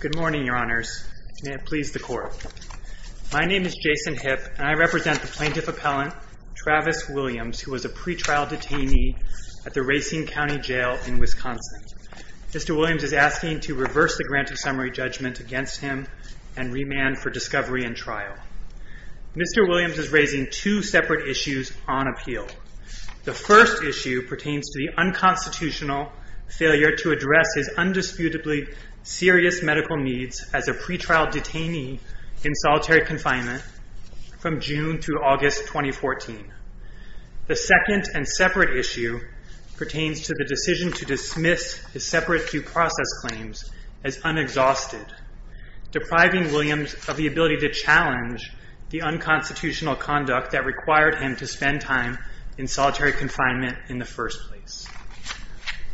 Good morning, Your Honors. May it please the Court. My name is Jason Hipp, and I represent the Plaintiff Appellant Travis Williams, who was a pretrial detainee at the Racine County Jail in Wisconsin. Mr. Williams is asking to reverse the granted summary judgment against him and remand for discovery and trial. Mr. Williams is raising two separate issues on appeal. The first issue pertains to the unconstitutional failure to address his undisputably serious medical needs as a pretrial detainee in solitary confinement from June through August 2014. The second and separate issue pertains to the decision to dismiss his separate due process claims as unexhausted, depriving Williams of the ability to challenge the unconstitutional conduct that required him to spend time in solitary confinement in the first place.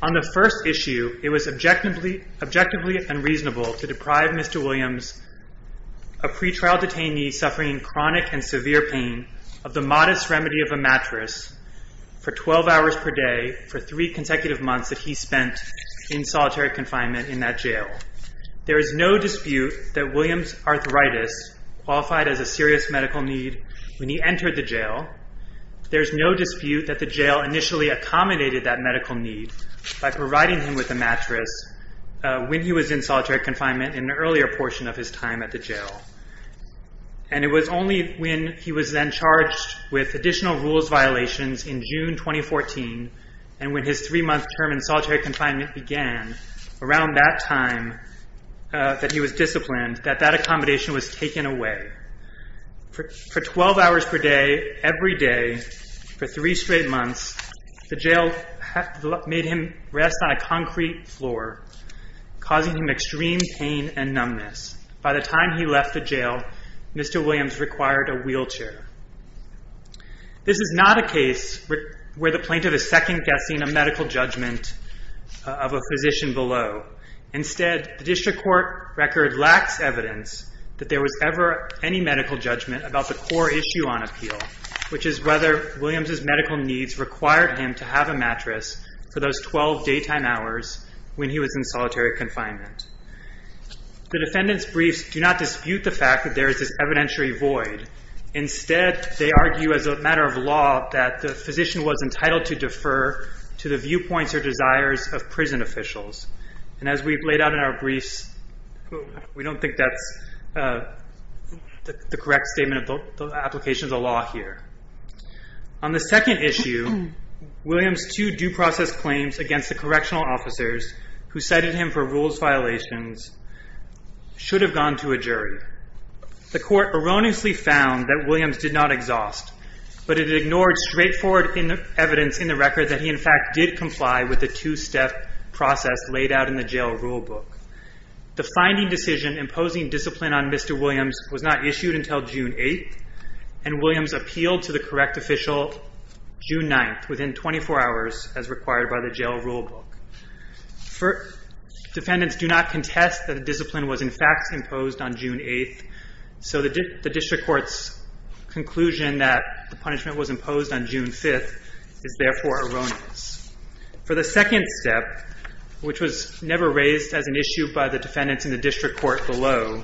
On the first issue, it was objectively unreasonable to deprive Mr. Williams, a pretrial detainee suffering chronic and severe pain, of the modest remedy of a mattress for 12 hours per day for three consecutive months that he spent in solitary confinement in that jail. There is no dispute that Williams' arthritis qualified as a serious medical need when he entered the jail. There is no dispute that the jail initially accommodated that medical need by providing him with a mattress when he was in solitary confinement in an earlier portion of his time at the jail. It was only when he was then charged with additional rules violations in June 2014, and when his three-month term in solitary confinement began, around that time that he was disciplined, that that accommodation was taken away. For 12 hours per day, every day, for three straight months, the jail made him rest on a concrete floor, causing him extreme pain and numbness. By the time he left the jail, Mr. Williams required a wheelchair. This is not a case where the plaintiff is second-guessing a medical judgment of a physician below. Instead, the district court record lacks evidence that there was ever any medical judgment about the core issue on appeal, which is whether Williams' medical needs required him to have a mattress for those 12 daytime hours when he was in solitary confinement. The defendant's briefs do not dispute the fact that there is this evidentiary void. Instead, they argue as a matter of law that the physician was entitled to defer to the viewpoints or desires of prison officials. And as we've laid out in our briefs, we don't think that's the correct statement of the application of the law here. On the second issue, Williams' two due process claims against the correctional officers who cited him for rules violations should have gone to a jury. The court erroneously found that Williams did not exhaust, but it ignored straightforward evidence in the record that he, in fact, did comply with the two-step process laid out in the jail rulebook. The finding decision imposing discipline on Mr. Williams was not issued until June 8th, and Williams appealed to the correct official June 9th, within 24 hours, as required by the jail rulebook. Defendants do not contest that the discipline was, in fact, imposed on June 8th, so the district court's conclusion that the punishment was imposed on June 5th is therefore erroneous. For the second step, which was never raised as an issue by the defendants in the district court below,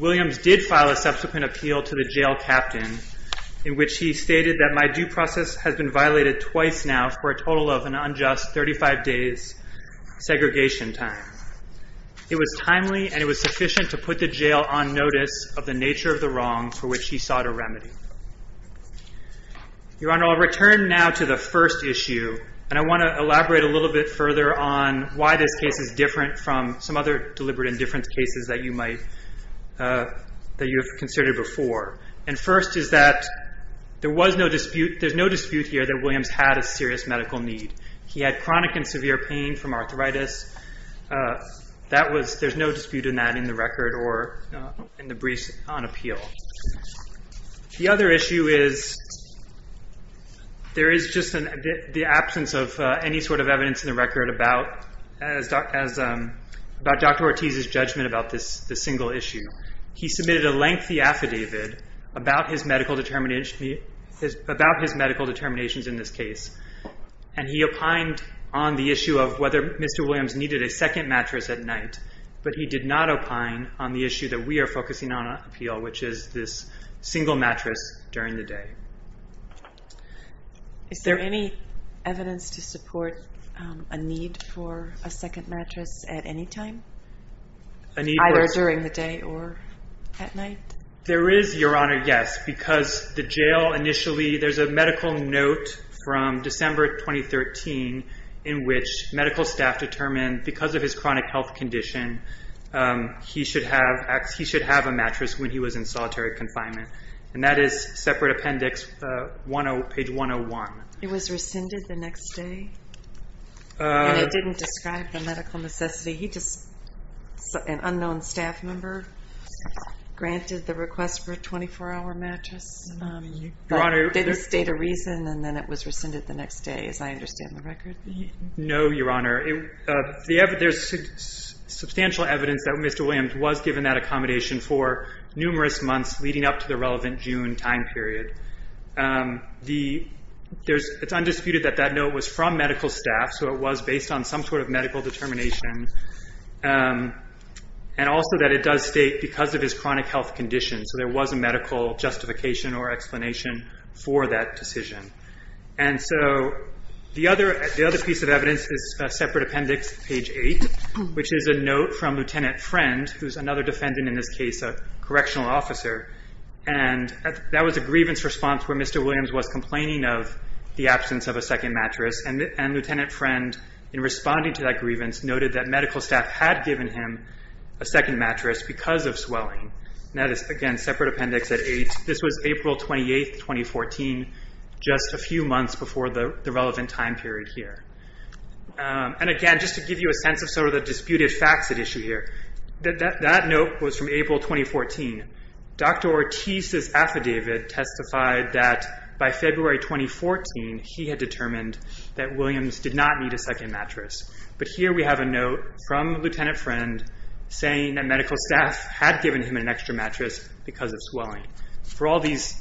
Williams did file a subsequent appeal to the jail captain in which he stated that my due process has been violated twice now for a total of an unjust 35 days' segregation time. It was timely, and it was sufficient to put the jail on notice of the nature of the wrong for which he sought a remedy. Your Honor, I'll return now to the first issue, and I want to elaborate a little bit further on why this case is different from some other deliberate indifference cases that you have considered before. First is that there's no dispute here that Williams had a serious medical need. He had chronic and severe pain from arthritis. There's no dispute in that in the record or in the briefs on appeal. The other issue is there is just the absence of any sort of evidence in the record about Dr. Ortiz's judgment about this single issue. He submitted a lengthy affidavit about his medical determinations in this case, and he opined on the issue of whether Mr. Williams needed a second mattress at night, but he did not opine on the issue that we are focusing on on appeal, which is this single mattress during the day. Is there any evidence to support a need for a second mattress at any time, either during the day or at night? There is, Your Honor, yes, because the jail initially – there's a medical note from December 2013 in which medical staff determined because of his chronic health condition, he should have a mattress when he was in solitary confinement, and that is separate appendix, page 101. It was rescinded the next day? It didn't describe the medical necessity. He just – an unknown staff member granted the request for a 24-hour mattress. Your Honor – It didn't state a reason, and then it was rescinded the next day, as I understand the record. No, Your Honor. There's substantial evidence that Mr. Williams was given that accommodation for numerous months leading up to the relevant June time period. It's undisputed that that note was from medical staff, so it was based on some sort of medical determination, and also that it does state because of his chronic health condition, so there was a medical justification or explanation for that decision. And so the other piece of evidence is separate appendix, page 8, which is a note from Lieutenant Friend, who's another defendant in this case, a correctional officer, and that was a grievance response where Mr. Williams was complaining of the absence of a second mattress, and Lieutenant Friend, in responding to that grievance, noted that medical staff had given him a second mattress because of swelling. That is, again, separate appendix at 8. This was April 28, 2014, just a few months before the relevant time period here. And again, just to give you a sense of some of the disputed facts at issue here, that note was from April 2014. Dr. Ortiz's affidavit testified that by February 2014, he had determined that Williams did not need a second mattress. But here we have a note from Lieutenant Friend saying that medical staff had given him an extra mattress because of swelling. For all these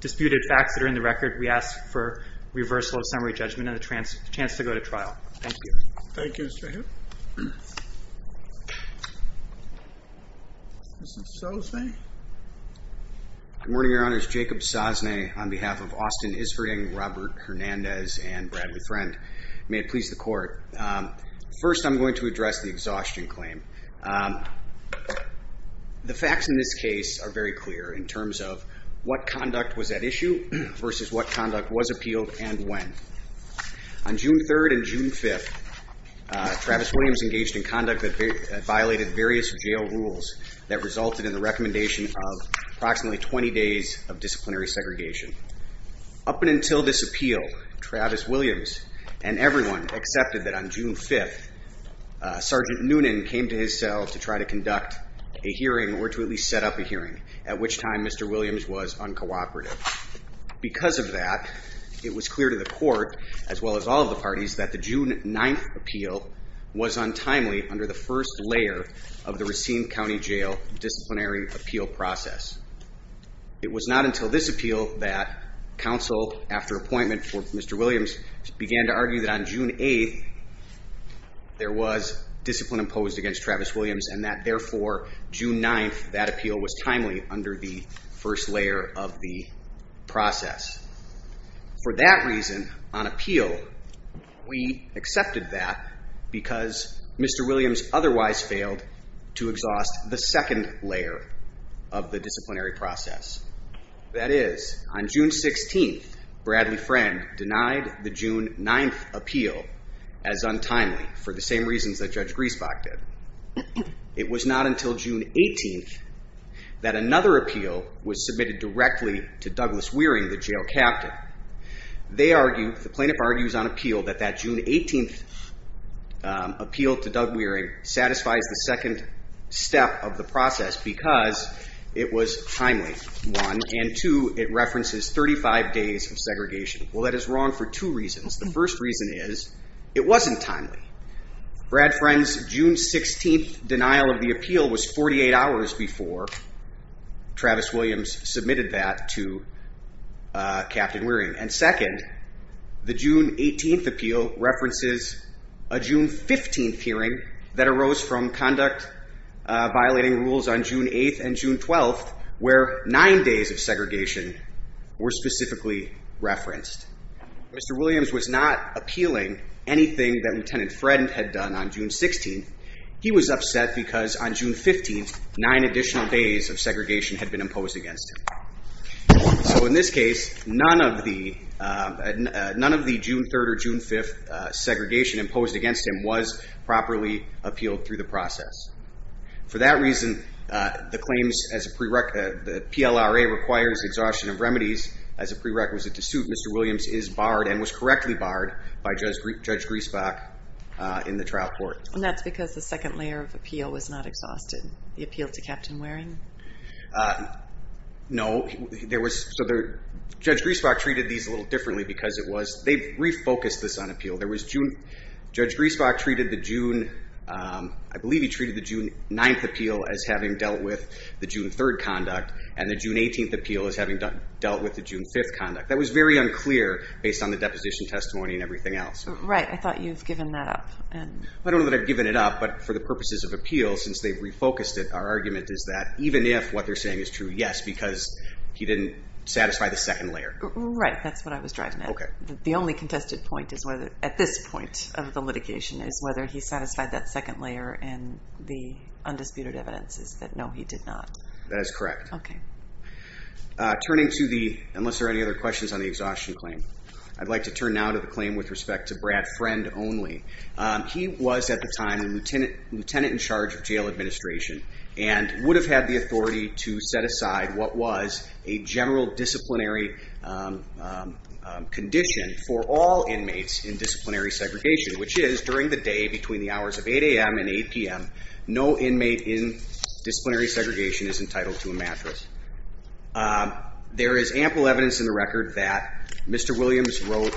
disputed facts that are in the record, we ask for reversal of summary judgment and a chance to go to trial. Thank you. Thank you, Mr. Hill. Mr. Sosnay? Good morning, Your Honors. Jacob Sosnay on behalf of Austin Isverding, Robert Hernandez, and Bradley Friend. May it please the Court. First, I'm going to address the exhaustion claim. The facts in this case are very clear in terms of what conduct was at issue versus what conduct was appealed and when. On June 3rd and June 5th, Travis Williams engaged in conduct that violated various jail rules that resulted in the recommendation of approximately 20 days of disciplinary segregation. Up until this appeal, Travis Williams and everyone accepted that on June 5th, Sergeant Noonan came to his cell to try to conduct a hearing or to at least set up a hearing, at which time Mr. Williams was uncooperative. Because of that, it was clear to the Court, as well as all of the parties, that the June 9th appeal was untimely under the first layer of the Racine County Jail disciplinary appeal process. It was not until this appeal that counsel, after appointment for Mr. Williams, began to argue that on June 8th there was discipline imposed against Travis Williams and that, therefore, June 9th, that appeal was timely under the first layer of the process. For that reason, on appeal, we accepted that because Mr. Williams otherwise failed to exhaust the second layer of the disciplinary process. That is, on June 16th, Bradley Friend denied the June 9th appeal as untimely for the same reasons that Judge Griesbach did. It was not until June 18th that another appeal was submitted directly to Douglas Wearing, the jail captain. They argued, the plaintiff argues on appeal, that that June 18th appeal to Doug Wearing satisfies the second step of the process because it was timely, one, and two, it references 35 days of segregation. Well, that is wrong for two reasons. The first reason is it wasn't timely. Brad Friend's June 16th denial of the appeal was 48 hours before Travis Williams submitted that to Captain Wearing. And second, the June 18th appeal references a June 15th hearing that arose from conduct violating rules on June 8th and June 12th where nine days of segregation were specifically referenced. Mr. Williams was not appealing anything that Lieutenant Friend had done on June 16th. He was upset because on June 15th, nine additional days of segregation had been imposed against him. So in this case, none of the June 3rd or June 5th segregation imposed against him was properly appealed through the process. For that reason, the claims as a prerequisite, the PLRA requires exhaustion of remedies as a prerequisite to suit Mr. Williams is barred and was correctly barred by Judge Griesbach in the trial court. And that's because the second layer of appeal was not exhausted, the appeal to Captain Wearing? No, there was, so Judge Griesbach treated these a little differently because it was, they refocused this on appeal. There was, Judge Griesbach treated the June, I believe he treated the June 9th appeal as having dealt with the June 3rd conduct and the June 18th appeal as having dealt with the June 5th conduct. That was very unclear based on the deposition testimony and everything else. Right, I thought you've given that up. I don't know that I've given it up, but for the purposes of appeal, since they refocused it, our argument is that even if what they're saying is true, yes, because he didn't satisfy the second layer. Right, that's what I was driving at. The only contested point is whether, at this point of the litigation, is whether he satisfied that second layer and the undisputed evidence is that no, he did not. That is correct. Okay. Turning to the, unless there are any other questions on the exhaustion claim, I'd like to turn now to the claim with respect to Brad Friend only. He was at the time a lieutenant in charge of jail administration and would have had the authority to set aside what was a general disciplinary condition for all inmates in disciplinary segregation, which is during the day between the hours of 8 a.m. and 8 p.m., no inmate in disciplinary segregation is entitled to a mattress. There is ample evidence in the record that Mr. Williams wrote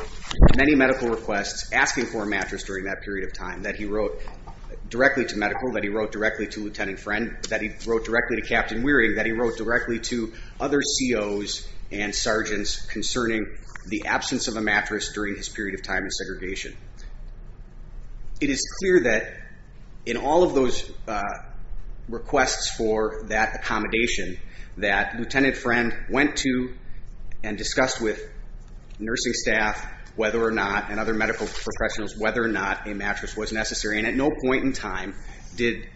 many medical requests asking for a mattress during that period of time, that he wrote directly to medical, that he wrote directly to Lieutenant Friend, that he wrote directly to Captain Wearing, that he wrote directly to other COs and sergeants concerning the absence of a mattress during his period of time in segregation. It is clear that in all of those requests for that accommodation, that Lieutenant Friend went to and discussed with nursing staff whether or not, and other medical professionals whether or not a mattress was necessary, and at no point in time did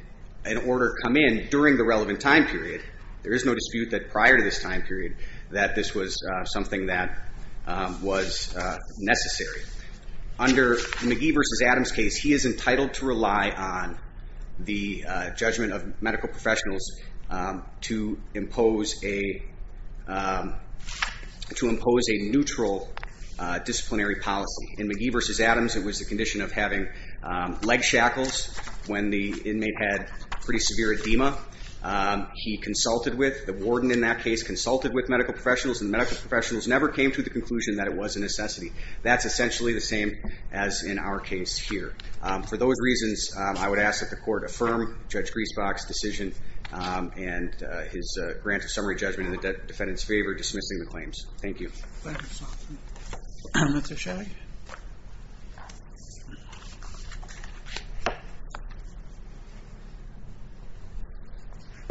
an order come in during the relevant time period. There is no dispute that prior to this time period that this was something that was necessary. Under McGee v. Adams case, he is entitled to rely on the judgment of medical professionals to impose a neutral disciplinary policy. In McGee v. Adams, it was the condition of having leg shackles when the inmate had pretty severe edema. He consulted with, the warden in that case consulted with medical professionals, and medical professionals never came to the conclusion that it was a necessity. That's essentially the same as in our case here. For those reasons, I would ask that the court affirm Judge Griesbach's decision and his grant of summary judgment in the defendant's favor, dismissing the claims. Thank you.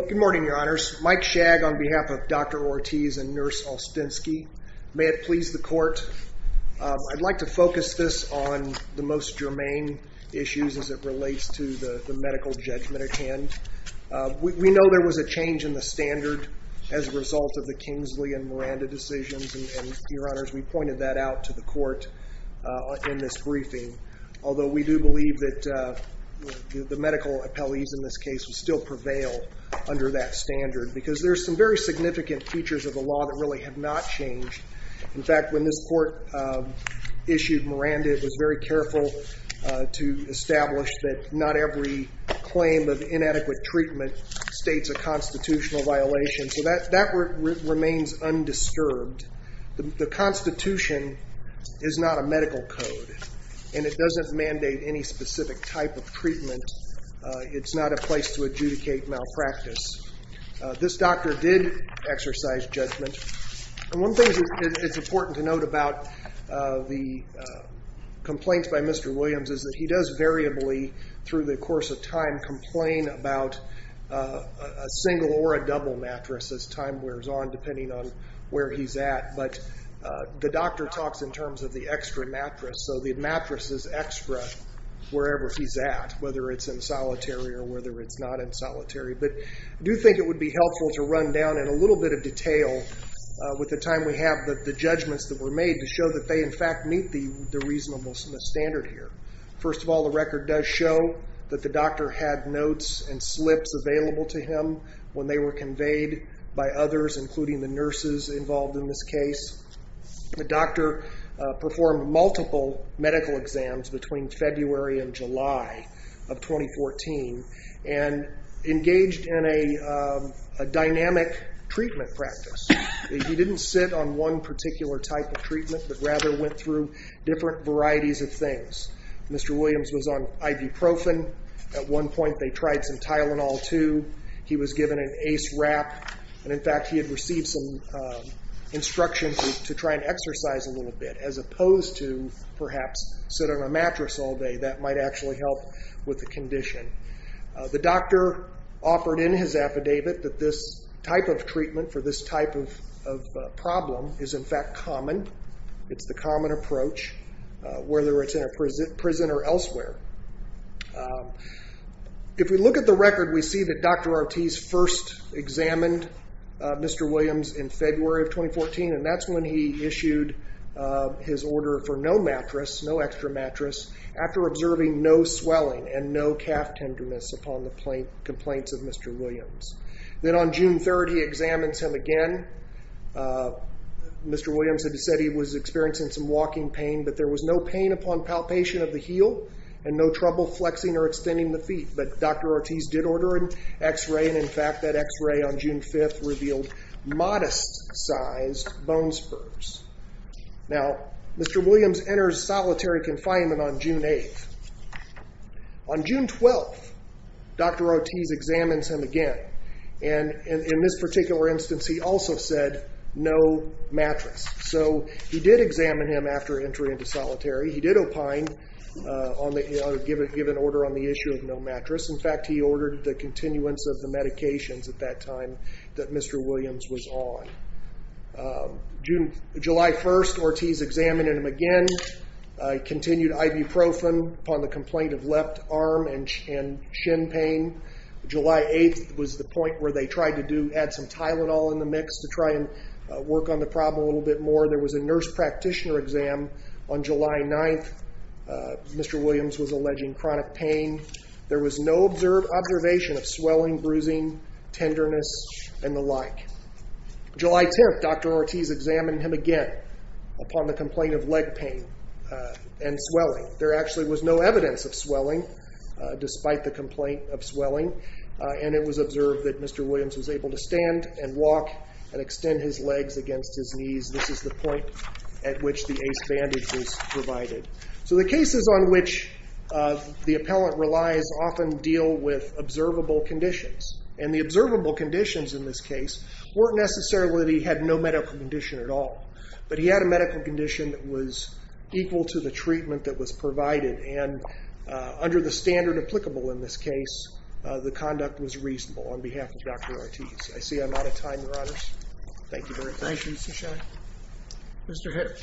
Good morning, your honors. Mike Shagg on behalf of Dr. Ortiz and Nurse Olstenski. May it please the court. I'd like to focus this on the most germane issues as it relates to the medical judgment at hand. We know there was a change in the standard as a result of the Kingsley and Miranda decisions, and your honors, we pointed that out to the court in this briefing. Although we do believe that the medical appellees in this case still prevail under that standard because there's some very significant features of the law that really have not changed. In fact, when this court issued Miranda, it was very careful to establish that not every claim of inadequate treatment states a constitutional violation. So that remains undisturbed. The Constitution is not a medical code, and it doesn't mandate any specific type of treatment. It's not a place to adjudicate malpractice. This doctor did exercise judgment. One thing that's important to note about the complaints by Mr. Williams is that he does variably through the course of time complain about a single or a double mattress as time wears on depending on where he's at. But the doctor talks in terms of the extra mattress, so the mattress is extra wherever he's at, whether it's in solitary or whether it's not in solitary. But I do think it would be helpful to run down in a little bit of detail with the time we have the judgments that were made to show that they in fact meet the reasonable standard here. First of all, the record does show that the doctor had notes and slips available to him when they were conveyed by others, including the nurses involved in this case. The doctor performed multiple medical exams between February and July of 2014 and engaged in a dynamic treatment practice. He didn't sit on one particular type of treatment but rather went through different varieties of things. Mr. Williams was on ibuprofen. At one point they tried some Tylenol too. He was given an Ace Wrap, and in fact he had received some instructions to try and exercise a little bit as opposed to perhaps sit on a mattress all day. That might actually help with the condition. The doctor offered in his affidavit that this type of treatment for this type of problem is in fact common. It's the common approach, whether it's in a prison or elsewhere. If we look at the record, we see that Dr. Ortiz first examined Mr. Williams in February of 2014, and that's when he issued his order for no mattress, after observing no swelling and no calf tenderness upon the complaints of Mr. Williams. Then on June 3rd he examines him again. Mr. Williams had said he was experiencing some walking pain, but there was no pain upon palpation of the heel and no trouble flexing or extending the feet. But Dr. Ortiz did order an x-ray, and in fact that x-ray on June 5th revealed modest-sized bone spurs. Now, Mr. Williams enters solitary confinement on June 8th. On June 12th, Dr. Ortiz examines him again, and in this particular instance he also said no mattress. So he did examine him after entry into solitary. He did opine, give an order on the issue of no mattress. In fact, he ordered the continuance of the medications at that time that Mr. Williams was on. July 1st, Ortiz examined him again. He continued ibuprofen upon the complaint of left arm and shin pain. July 8th was the point where they tried to add some Tylenol in the mix to try and work on the problem a little bit more. There was a nurse practitioner exam on July 9th. Mr. Williams was alleging chronic pain. There was no observation of swelling, bruising, tenderness, and the like. July 10th, Dr. Ortiz examined him again upon the complaint of leg pain and swelling. There actually was no evidence of swelling despite the complaint of swelling, and it was observed that Mr. Williams was able to stand and walk and extend his legs against his knees. This is the point at which the ACE bandage was provided. So the cases on which the appellant relies often deal with observable conditions, and the observable conditions in this case weren't necessarily that he had no medical condition at all, but he had a medical condition that was equal to the treatment that was provided, and under the standard applicable in this case, the conduct was reasonable on behalf of Dr. Ortiz. I see I'm out of time, Your Honors. Thank you very much. Thank you, Cishan. Mr. Hitter.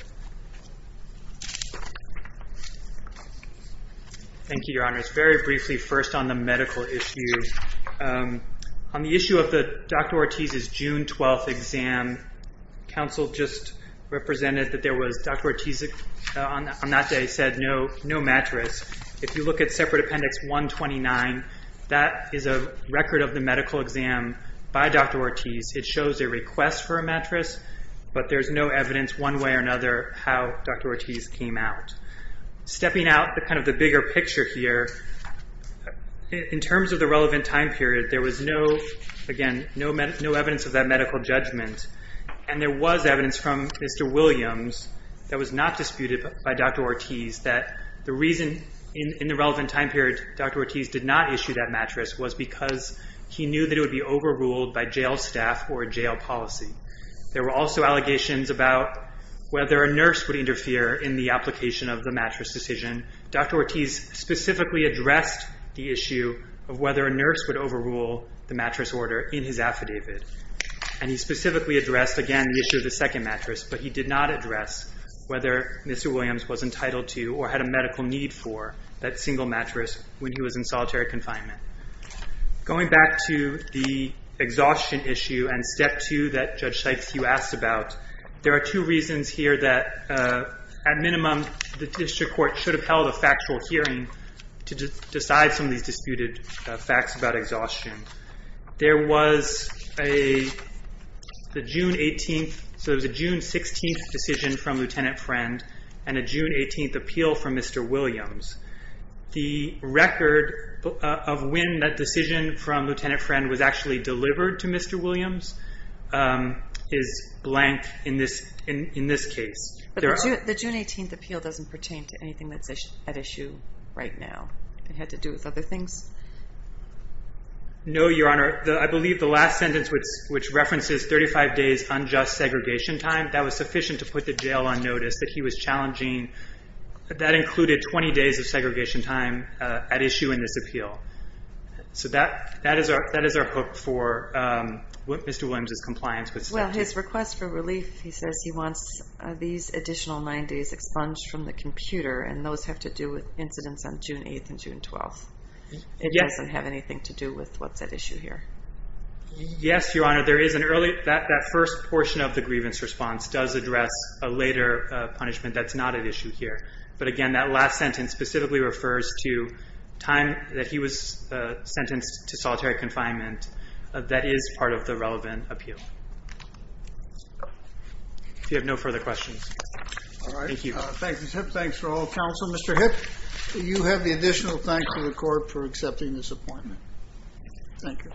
Thank you, Your Honors. I want to touch very briefly first on the medical issue. On the issue of Dr. Ortiz's June 12th exam, counsel just represented that Dr. Ortiz on that day said no mattress. If you look at Separate Appendix 129, that is a record of the medical exam by Dr. Ortiz. It shows a request for a mattress, but there's no evidence one way or another how Dr. Ortiz came out. Stepping out kind of the bigger picture here, in terms of the relevant time period, there was no evidence of that medical judgment, and there was evidence from Mr. Williams that was not disputed by Dr. Ortiz that the reason in the relevant time period Dr. Ortiz did not issue that mattress was because he knew that it would be overruled by jail staff or a jail policy. There were also allegations about whether a nurse would interfere in the application of the mattress decision. Dr. Ortiz specifically addressed the issue of whether a nurse would overrule the mattress order in his affidavit, and he specifically addressed, again, the issue of the second mattress, but he did not address whether Mr. Williams was entitled to or had a medical need for that single mattress when he was in solitary confinement. Going back to the exhaustion issue and Step 2 that Judge Sykes, you asked about, there are two reasons here that, at minimum, the district court should have held a factual hearing to decide some of these disputed facts about exhaustion. There was a June 16th decision from Lieutenant Friend and a June 18th appeal from Mr. Williams. The record of when that decision from Lieutenant Friend was actually delivered to Mr. Williams is blank in this case. The June 18th appeal doesn't pertain to anything that's at issue right now. It had to do with other things? No, Your Honor. I believe the last sentence, which references 35 days unjust segregation time, that was sufficient to put the jail on notice that he was challenging. That included 20 days of segregation time at issue in this appeal. That is our hope for Mr. Williams' compliance with Step 2. His request for relief, he says he wants these additional nine days expunged from the computer, and those have to do with incidents on June 8th and June 12th. It doesn't have anything to do with what's at issue here. Yes, Your Honor. That first portion of the grievance response does address a later punishment that's not at issue here. But again, that last sentence specifically refers to time that he was sentenced to solitary confinement. That is part of the relevant appeal. If you have no further questions. All right. Thank you. Thanks for all counsel. Mr. Hipp, you have the additional thanks to the court for accepting this appointment. Thank you.